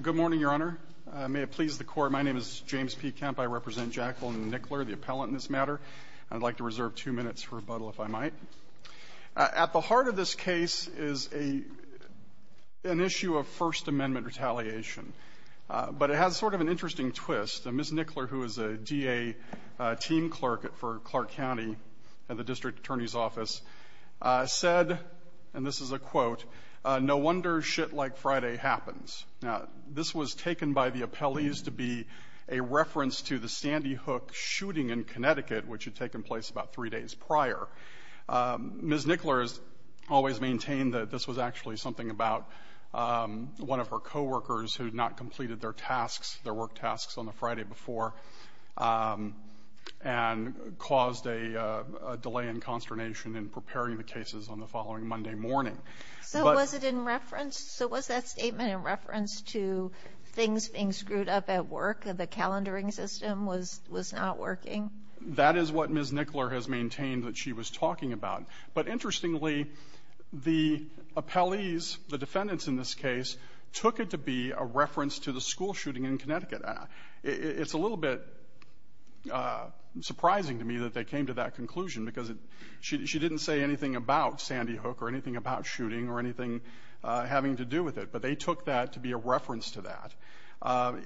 Good morning, Your Honor. May it please the Court, my name is James P. Kemp. I represent Jacqueline Nickler, the appellant in this matter. I'd like to reserve two minutes for rebuttal, if I might. At the heart of this case is an issue of First Amendment retaliation. But it has sort of an interesting twist. Ms. Nickler, who is a DA team clerk for Clark County at the District Attorney's Office, said, and this is a quote, No wonder shit like Friday happens. Now, this was taken by the appellees to be a reference to the Sandy Hook shooting in Connecticut, which had taken place about three days prior. Ms. Nickler has always maintained that this was actually something about one of her coworkers who had not completed their tasks, their work tasks on the Friday before, and caused a delay in consternation in preparing the cases on the following Monday morning. So was it in reference? So was that statement in reference to things being screwed up at work, the calendaring system was not working? That is what Ms. Nickler has maintained that she was talking about. But interestingly, the appellees, the defendants in this case, took it to be a reference to the school shooting in Connecticut. It's a little bit surprising to me that they came to that conclusion, because she didn't say anything about Sandy Hook or anything about shooting or anything having to do with it. But they took that to be a reference to that.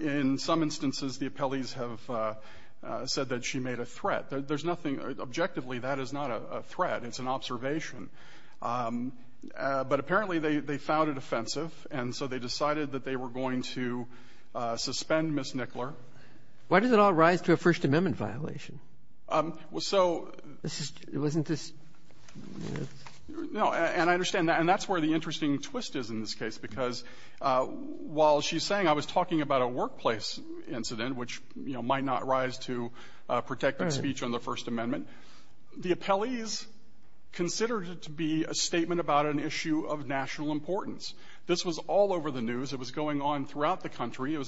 In some instances, the appellees have said that she made a threat. There's nothing. Objectively, that is not a threat. It's an observation. But apparently, they found it offensive, and so they decided that they were going to suspend Ms. Nickler. Why does it all rise to a First Amendment violation? Well, so — Wasn't this — No. And I understand that. And that's where the interesting twist is in this case, because while she's saying I was talking about a workplace incident, which, you know, might not rise to protected speech on the First Amendment, the appellees considered it to be a statement about an issue of national importance. This was all over the news. It was going on throughout the country. It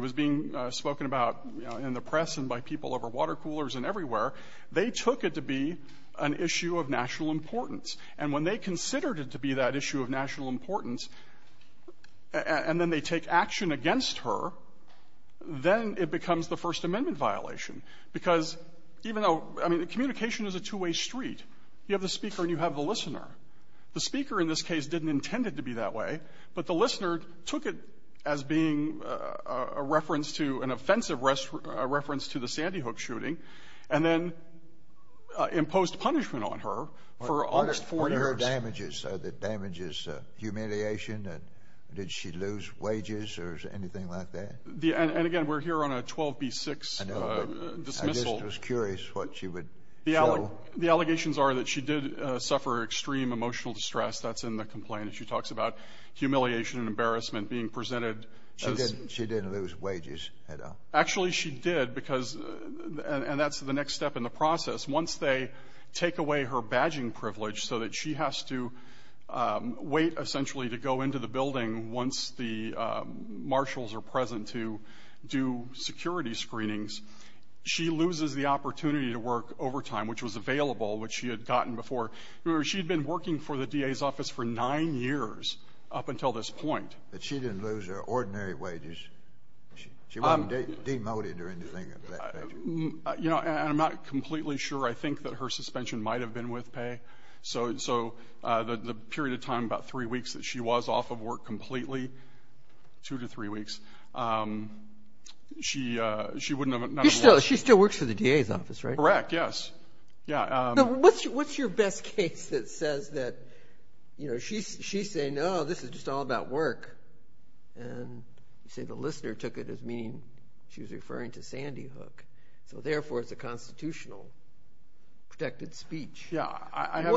was being spoken about in the press and by people over water coolers and everywhere. They took it to be an issue of national importance. And when they considered it to be that issue of national importance, and then they take action against her, then it becomes the First Amendment violation. Because even though — I mean, communication is a two-way street. You have the speaker and you have the listener. The speaker in this case didn't intend it to be that way, but the listener took it as being a reference to — an offensive reference to the Sandy Hook shooting and then imposed punishment on her for almost four years. What are her damages? Are the damages humiliation? Did she lose wages or anything like that? And again, we're here on a 12b-6 dismissal. I know, but I just was curious what she would show. The allegations are that she did suffer extreme emotional distress. That's in the complaint. She talks about humiliation and embarrassment being presented. She didn't lose wages at all. Actually, she did because — and that's the next step in the process. Once they take away her badging privilege so that she has to wait, essentially, to go into the building once the marshals are present to do security screenings, she loses the opportunity to work overtime, which was available, which she had gotten before. She had been working for the DA's office for nine years up until this point. But she didn't lose her ordinary wages. She wasn't demoted or anything of that nature. You know, and I'm not completely sure. I think that her suspension might have been with pay. So the period of time, about three weeks, that she was off of work completely, two to three weeks, she wouldn't have — She still works for the DA's office, right? Correct, yes. Yeah. So what's your best case that says that, you know, she's saying, oh, this is just all about work. And you say the listener took it as meaning she was referring to Sandy Hook. So therefore, it's a constitutional protected speech. Yeah.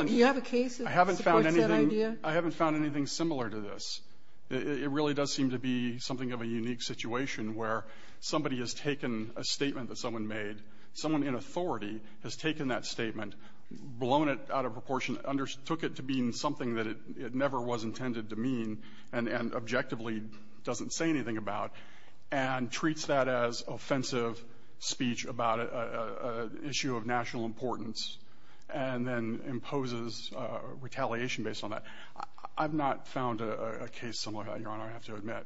Do you have a case that supports that idea? I haven't found anything similar to this. It really does seem to be something of a unique situation where somebody has taken a statement that someone made. Someone in authority has taken that statement, blown it out of proportion, took it to mean something that it never was intended to mean and objectively doesn't say anything about, and treats that as offensive speech about an issue of national importance and then imposes retaliation based on that. I've not found a case similar to that, Your Honor, I have to admit.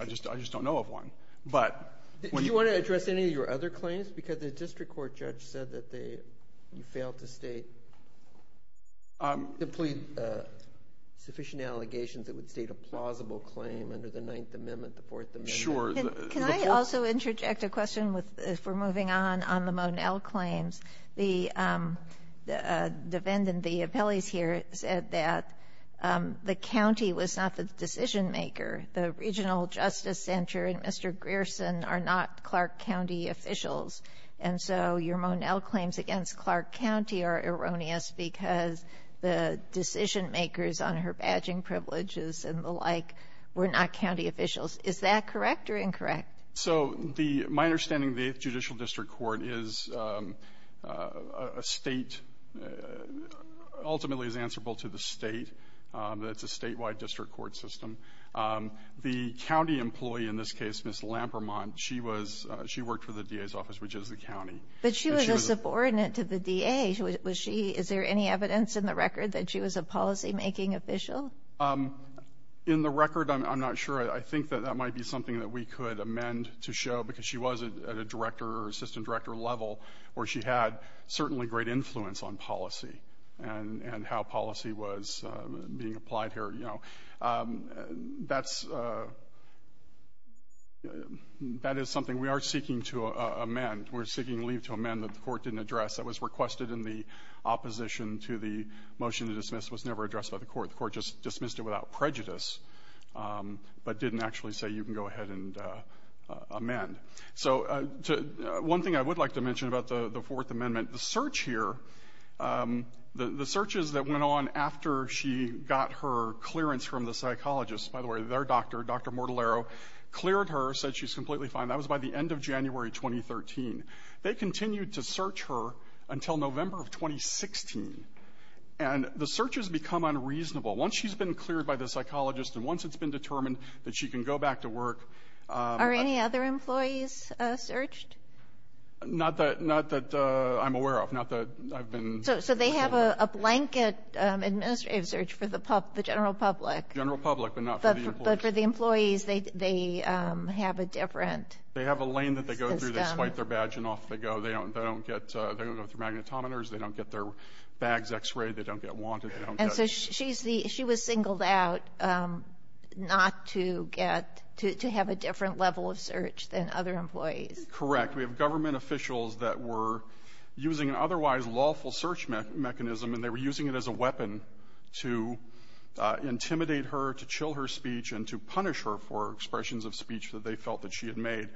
I just don't know of one. Do you want to address any of your other claims? Because the district court judge said that you failed to state sufficient allegations that would state a plausible claim under the Ninth Amendment, the Fourth Amendment. Sure. Can I also interject a question if we're moving on on the Monell claims? The defendant, the appellees here, said that the county was not the decision maker. The regional justice center and Mr. Grierson are not Clark County officials. And so your Monell claims against Clark County are erroneous because the decision makers on her badging privileges and the like were not county officials. Is that correct or incorrect? So the — my understanding of the Eighth Judicial District Court is a State ultimately is answerable to the State. It's a statewide district court system. The county employee in this case, Ms. Lampermont, she was — she worked for the DA's office, which is the county. But she was a subordinate to the DA. Was she — is there any evidence in the record that she was a policymaking official? In the record, I'm not sure. I think that that might be something that we could amend to show because she was at a director or assistant director level where she had certainly great influence on policy and how policy was being applied here, you know. That's — that is something we are seeking to amend. We're seeking leave to amend that the court didn't address. That was requested in the opposition to the motion to dismiss. It was never addressed by the court. The court just dismissed it without prejudice but didn't actually say you can go ahead and amend. So one thing I would like to mention about the Fourth Amendment, the search here, the searches that went on after she got her clearance from the psychologist — by the way, their doctor, Dr. Mortallaro, cleared her, said she's completely fine. That was by the end of January 2013. They continued to search her until November of 2016. And the searches become unreasonable. Once she's been cleared by the psychologist and once it's been determined that she can go back to work — Are any other employees searched? Not that — not that I'm aware of. Not that I've been — So they have a blanket administrative search for the general public. The general public, but not for the employees. But for the employees, they have a different system. They have a lane that they go through. They swipe their badge and off they go. They don't get — they don't go through magnetometers. They don't get their bags x-rayed. They don't get wanted. They don't get — And so she's the — she was singled out not to get — to have a different level of search than other employees. Correct. We have government officials that were using an otherwise lawful search mechanism and they were using it as a weapon to intimidate her, to chill her speech, and to punish her for expressions of speech that they felt that she had made.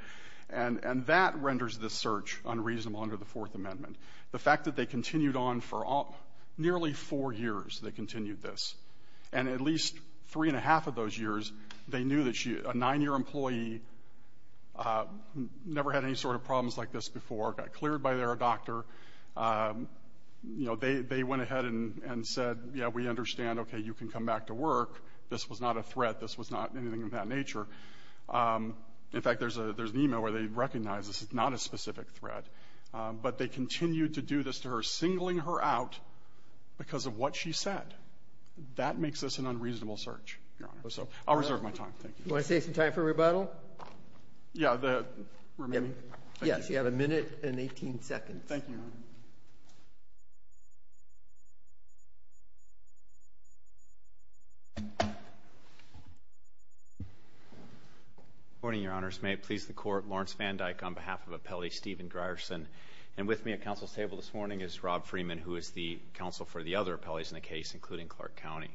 And that renders this search unreasonable under the Fourth Amendment. The fact that they continued on for nearly four years, they continued this. And at least three and a half of those years, they knew that she — a nine-year employee, never had any sort of problems like this before, got cleared by their doctor. You know, they went ahead and said, yeah, we understand. Okay, you can come back to work. This was not a threat. This was not anything of that nature. In fact, there's an email where they recognize this is not a specific threat. But they continued to do this to her, singling her out because of what she said. That makes this an unreasonable search, Your Honor. So I'll reserve my time. Thank you. Do you want to save some time for rebuttal? Yeah. Yes, you have a minute and 18 seconds. Thank you, Your Honor. Good morning, Your Honors. May it please the Court. Lawrence Van Dyke on behalf of Appellee Steven Grierson. And with me at counsel's table this morning is Rob Freeman, who is the counsel for the other appellees in the case, including Clark County.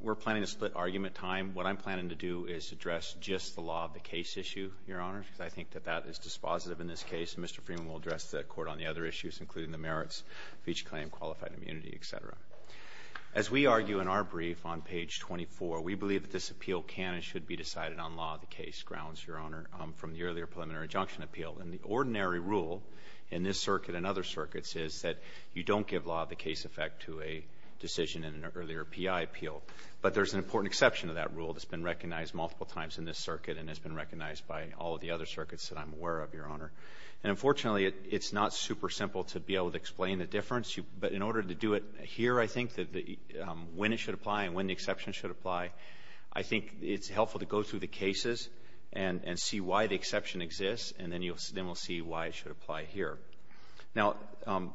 We're planning to split argument time. What I'm planning to do is address just the law of the case issue, Your Honor, because I think that that is dispositive in this case. And Mr. Freeman will address the Court on the other issues, including the merits of each claim, qualified immunity, et cetera. As we argue in our brief on page 24, we believe that this appeal can and should be decided on law of the case grounds, Your Honor, from the earlier preliminary injunction appeal. And the ordinary rule in this circuit and other circuits is that you don't give law of the case effect to a decision in an earlier P.I. appeal. But there's an important exception to that rule that's been recognized multiple times in this circuit and has been recognized by all of the other circuits that I'm aware of, Your Honor. And unfortunately, it's not super simple to be able to explain the difference. But in order to do it here, I think, when it should apply and when the exception should apply, I think it's helpful to go through the cases and see why the exception exists, and then we'll see why it should apply here. Now,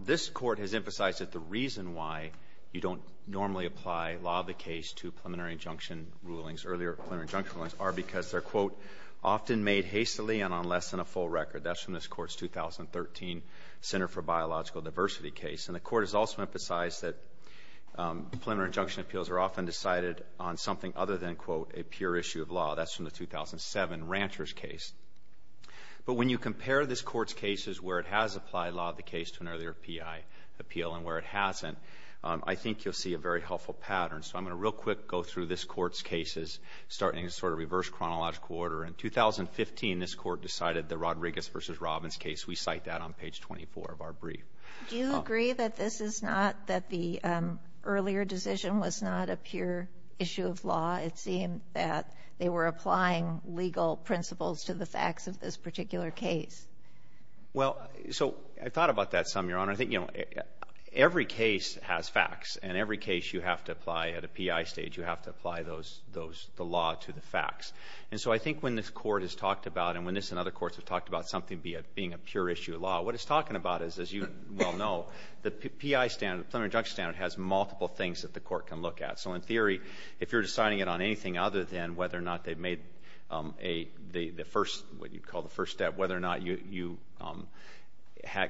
this Court has emphasized that the reason why you don't normally apply law of the case to preliminary injunction rulings, earlier preliminary injunction rulings are because they're, quote, often made hastily and on less than a full record. That's from this Court's 2013 Center for Biological Diversity case. And the Court has also emphasized that preliminary injunction appeals are often decided on something other than, quote, a pure issue of law. That's from the 2007 Rancher's case. But when you compare this Court's cases where it has applied law of the case to an earlier P.I. appeal and where it hasn't, I think you'll see a very helpful pattern. So I'm going to real quick go through this Court's cases, starting in sort of reverse chronological order. In 2015, this Court decided the Rodriguez v. Robbins case. We cite that on page 24 of our brief. Do you agree that this is not, that the earlier decision was not a pure issue of law? It seemed that they were applying legal principles to the facts of this particular Well, so I thought about that some, Your Honor. I think, you know, every case has facts, and every case you have to apply at a P.I. stage, you have to apply the law to the facts. And so I think when this Court has talked about, and when this and other courts have talked about something being a pure issue of law, what it's talking about is, as you well know, the P.I. standard, the preliminary injunction standard, has multiple things that the Court can look at. So in theory, if you're deciding it on anything other than whether or not they've made the first, what you'd call the first step, whether or not you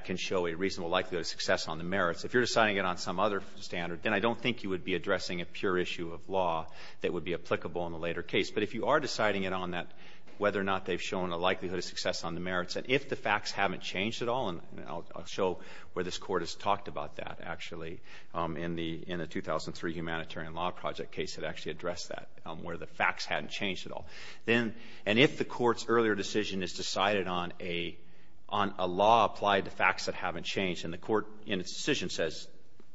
can show a reasonable likelihood of success on the merits, if you're deciding it on some other standard, then I don't think you would be addressing a pure issue of law that would be applicable in the later case. But if you are deciding it on that, whether or not they've shown a likelihood of success on the merits, and if the facts haven't changed at all, and I'll show where this Court has talked about that, actually, in the 2003 Humanitarian Law Project case that actually addressed that, where the facts hadn't changed at all. Then, and if the Court's earlier decision is decided on a law applied to facts that haven't changed, and the Court, in its decision, says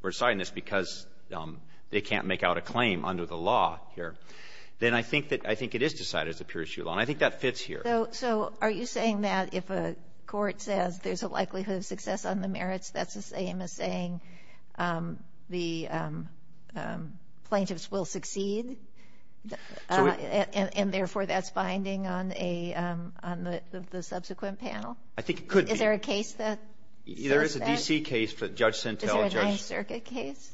we're deciding this because they can't make out a claim under the law here, then I think that it is decided as a pure issue of law. And I think that fits here. So are you saying that if a court says there's a likelihood of success on the merits, that's the same as saying the plaintiffs will succeed? And therefore, that's binding on a — on the subsequent panel? I think it could be. Is there a case that — There is a D.C. case that Judge Sintel — Is there a Ninth Circuit case?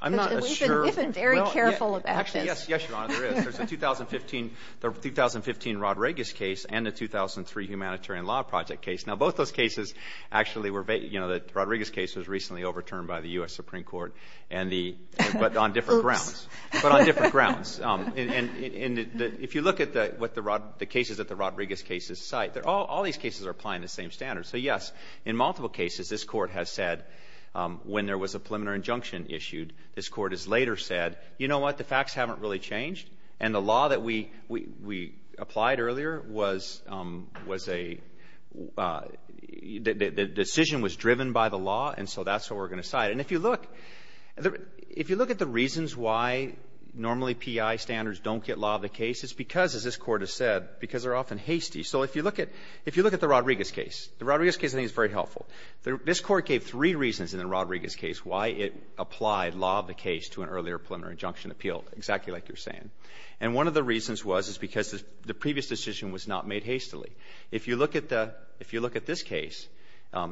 I'm not sure. We've been very careful about this. Actually, yes, Your Honor, there is. There's a 2015 Rodriguez case and a 2003 Humanitarian Law Project case. Now, both those cases actually were — you know, the Rodriguez case was recently overturned by the U.S. Supreme Court, and the — but on different grounds. Oops. But on different grounds. And if you look at what the cases that the Rodriguez cases cite, all these cases are applying the same standards. So, yes, in multiple cases, this Court has said, when there was a preliminary injunction issued, this Court has later said, you know what, the facts haven't really changed, and the law that we — we applied earlier was a — the decision was driven by the law, and so that's what we're going to cite. And if you look — if you look at the reasons why normally P.I. standards don't get law of the case, it's because, as this Court has said, because they're often hasty. So if you look at — if you look at the Rodriguez case, the Rodriguez case, I think, is very helpful. This Court gave three reasons in the Rodriguez case why it applied law of the case to an earlier preliminary injunction appeal, exactly like you're saying. And one of the reasons was, is because the previous decision was not made hastily. If you look at the — if you look at this case,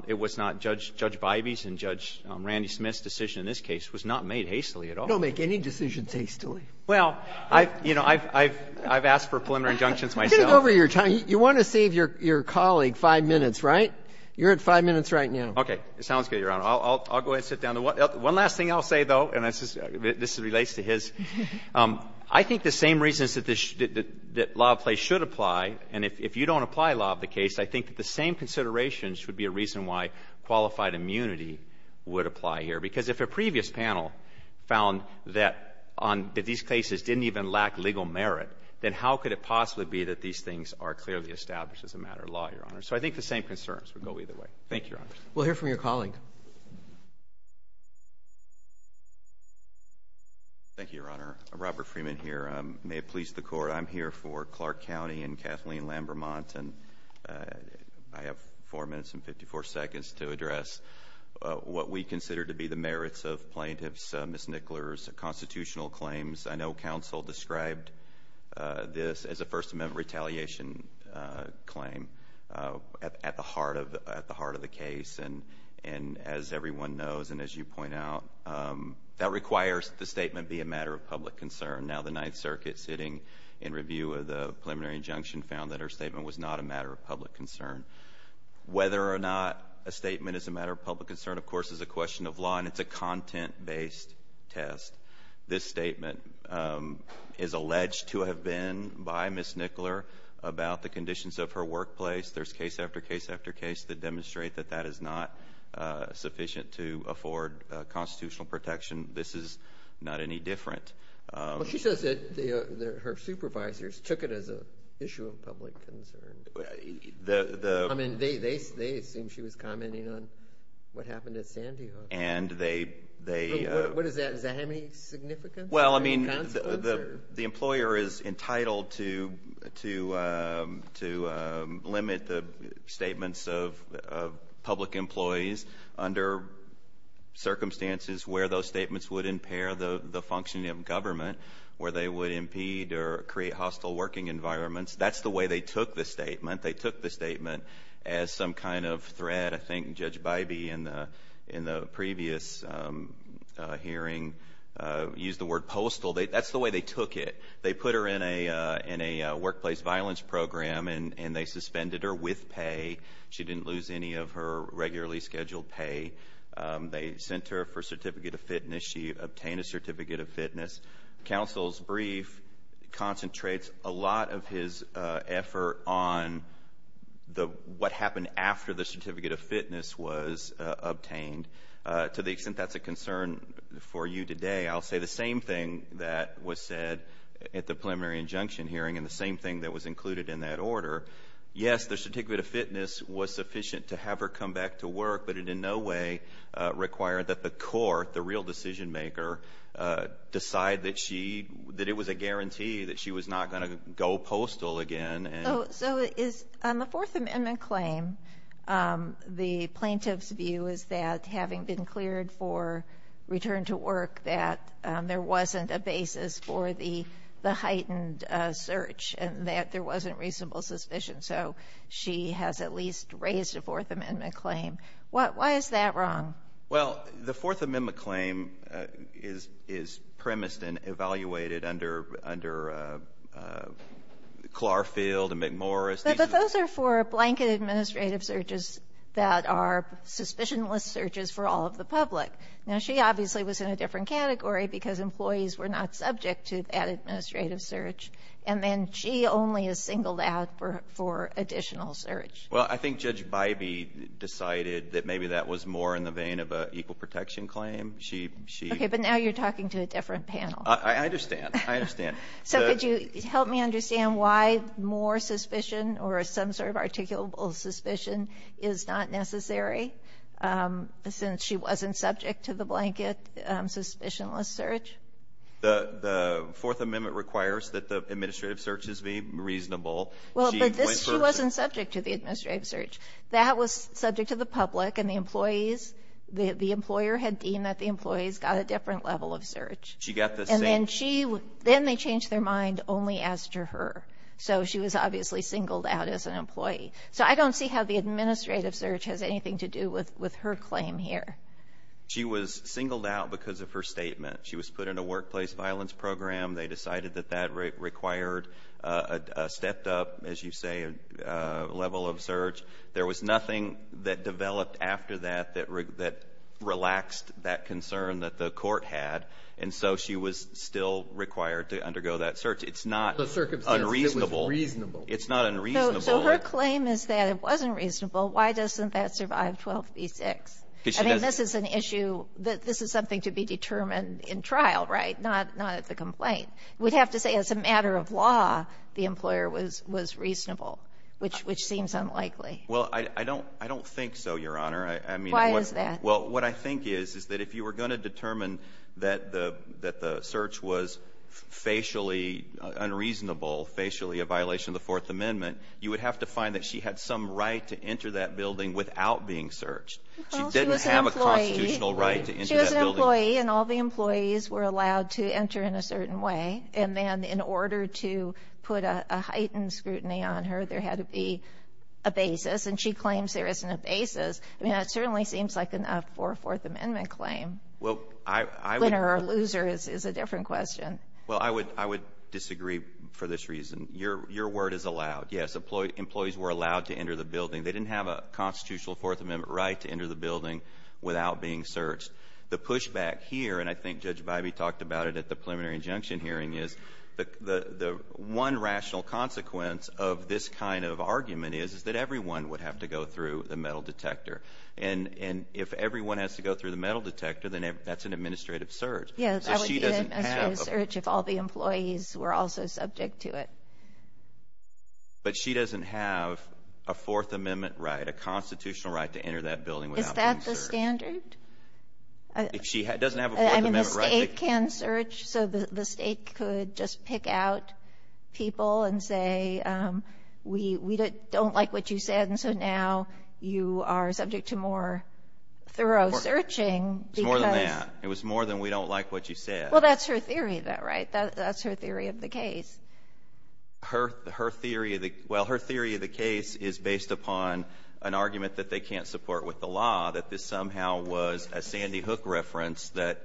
it was not — Judge Bivey's and Judge Randy Smith's decision in this case was not made hastily at all. Sotomayor, you don't make any decisions hastily. Well, I've — you know, I've asked for preliminary injunctions myself. You're going to go over your time. You want to save your colleague five minutes, right? You're at five minutes right now. Okay. It sounds good, Your Honor. I'll go ahead and sit down. One last thing I'll say, though, and this relates to his, I think the same reasons that this — that law of the place should apply, and if you don't apply law of the case, I think that the same considerations would be a reason why qualified immunity would apply here. Because if a previous panel found that on — that these cases didn't even lack legal merit, then how could it possibly be that these things are clearly established as a matter of law, Your Honor? So I think the same concerns would go either way. Thank you, Your Honor. We'll hear from your colleague. Thank you, Your Honor. Robert Freeman here. May it please the Court, I'm here for Clark County and Kathleen Lambermont, and I have 4 minutes and 54 seconds to address what we consider to be the merits of plaintiffs, Ms. Nickler's constitutional claims. I know counsel described this as a First Amendment retaliation claim at the heart of the case, and as everyone knows and as you point out, that requires the statement be a matter of public concern. Now, the Ninth Circuit sitting in review of the preliminary injunction found that her statement was not a matter of public concern. Whether or not a statement is a matter of public concern, of course, is a question of law, and it's a content-based test. This statement is alleged to have been by Ms. Nickler about the conditions of her workplace. There's case after case after case that demonstrate that that is not sufficient to afford constitutional protection. This is not any different. Well, she says that her supervisors took it as an issue of public concern. I mean, they assumed she was commenting on what happened at Sandy Hook. What is that? Does that have any significance? Well, I mean, the employer is entitled to limit the statements of public employees under circumstances where those statements would impair the functioning of government, where they would impede or create hostile working environments. That's the way they took the statement. As some kind of threat, I think Judge Bybee in the previous hearing used the word postal. That's the way they took it. They put her in a workplace violence program, and they suspended her with pay. She didn't lose any of her regularly scheduled pay. They sent her for a certificate of fitness. She obtained a certificate of fitness. Counsel's brief concentrates a lot of his effort on what happened after the certificate of fitness was obtained. To the extent that's a concern for you today, I'll say the same thing that was said at the preliminary injunction hearing and the same thing that was included in that order. Yes, the certificate of fitness was sufficient to have her come back to work, but it in no way required that the court, the real decision-maker, decide that it was a guarantee that she was not going to go postal again. So is on the Fourth Amendment claim, the plaintiff's view is that having been cleared for return to work, that there wasn't a basis for the heightened search and that there wasn't reasonable suspicion. So she has at least raised a Fourth Amendment claim. Why is that wrong? Well, the Fourth Amendment claim is premised and evaluated under Clarfield and McMorris. But those are for blanket administrative searches that are suspicionless searches for all of the public. Now, she obviously was in a different category because employees were not subject to that administrative search. And then she only is singled out for additional search. Well, I think Judge Bybee decided that maybe that was more in the vein of an equal protection claim. Okay. But now you're talking to a different panel. I understand. I understand. So could you help me understand why more suspicion or some sort of articulable suspicion is not necessary since she wasn't subject to the blanket suspicionless search? The Fourth Amendment requires that the administrative search is reasonable. Well, but this she wasn't subject to the administrative search. That was subject to the public and the employees, the employer had deemed that the employees got a different level of search. She got the same. And then she, then they changed their mind only as to her. So she was obviously singled out as an employee. So I don't see how the administrative search has anything to do with her claim here. She was singled out because of her statement. She was put in a workplace violence program. They decided that that required a stepped up, as you say, level of search. There was nothing that developed after that that relaxed that concern that the court had. And so she was still required to undergo that search. It's not unreasonable. It was reasonable. It's not unreasonable. So her claim is that it wasn't reasonable. Why doesn't that survive 12b-6? I mean, this is an issue that this is something to be determined in trial, right, not at the complaint. We'd have to say as a matter of law, the employer was reasonable, which seems unlikely. Well, I don't think so, Your Honor. Why is that? Well, what I think is is that if you were going to determine that the search was facially unreasonable, facially a violation of the Fourth Amendment, you would have to find that she had some right to enter that building without being searched. Well, she was an employee. She didn't have a constitutional right to enter that building. She was an employee, and all the employees were allowed to enter in a certain way. And then in order to put a heightened scrutiny on her, there had to be a basis. And she claims there isn't a basis. I mean, that certainly seems like a Fourth Amendment claim. Well, I would ---- Winner or loser is a different question. Well, I would disagree for this reason. Your word is allowed. Yes, employees were allowed to enter the building. They didn't have a constitutional Fourth Amendment right to enter the building without being searched. The pushback here, and I think Judge Bybee talked about it at the preliminary injunction hearing, is the one rational consequence of this kind of argument is, is that everyone would have to go through the metal detector. And if everyone has to go through the metal detector, then that's an administrative search. So she doesn't have a ---- Yes, that would be an administrative search if all the employees were also subject to it. But she doesn't have a Fourth Amendment right, a constitutional right to enter that building without being searched. Is that the standard? She doesn't have a Fourth Amendment right to ---- I mean, the State can search. So the State could just pick out people and say, we don't like what you said, and so now you are subject to more thorough searching because ---- It's more than that. It was more than we don't like what you said. Well, that's her theory, though, right? That's her theory of the case. Her theory of the case is based upon an argument that they can't support with the law, that this somehow was a Sandy Hook reference that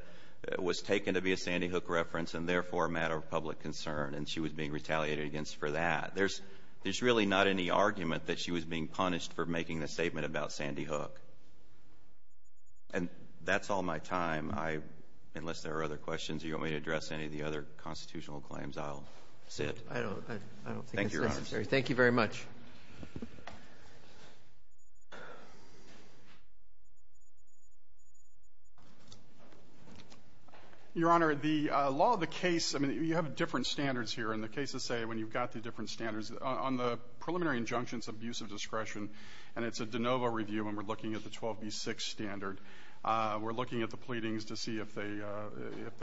was taken to be a Sandy Hook reference and therefore a matter of public concern, and she was being retaliated against for that. There's really not any argument that she was being punished for making the statement about Sandy Hook. And that's all my time. Unless there are other questions or you want me to address any of the other I don't think it's necessary. Thank you, Your Honor. Thank you very much. Your Honor, the law of the case, I mean, you have different standards here, and the cases say when you've got the different standards. On the preliminary injunctions of use of discretion, and it's a de novo review and we're looking at the 12b-6 standard, we're looking at the pleadings to see if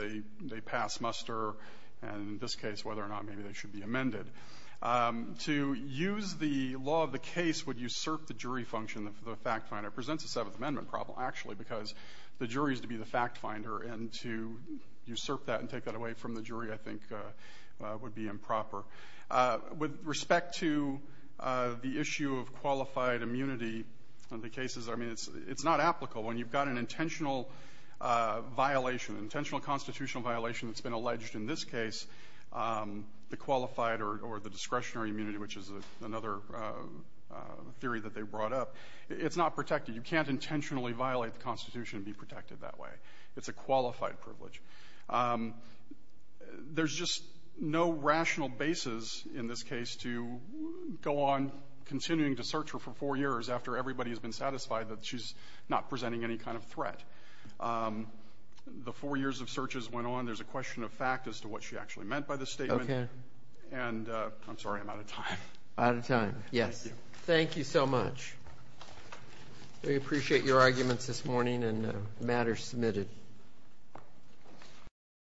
they pass muster, and in this case whether or not maybe they should be amended. To use the law of the case would usurp the jury function, the fact finder. It presents a Seventh Amendment problem, actually, because the jury is to be the fact finder, and to usurp that and take that away from the jury, I think, would be improper. With respect to the issue of qualified immunity on the cases, I mean, it's not applicable. When you've got an intentional violation, intentional constitutional violation that's been alleged in this case, the qualified or the discretionary immunity, which is another theory that they brought up, it's not protected. You can't intentionally violate the Constitution and be protected that way. It's a qualified privilege. There's just no rational basis in this case to go on continuing to search her for four years after everybody has been satisfied that she's not presenting any kind of threat. The four years of searches went on. There's a question of fact as to what she actually meant by this statement. Okay. And I'm sorry, I'm out of time. Out of time. Yes. Thank you. Thank you so much. We appreciate your arguments this morning and the matters submitted.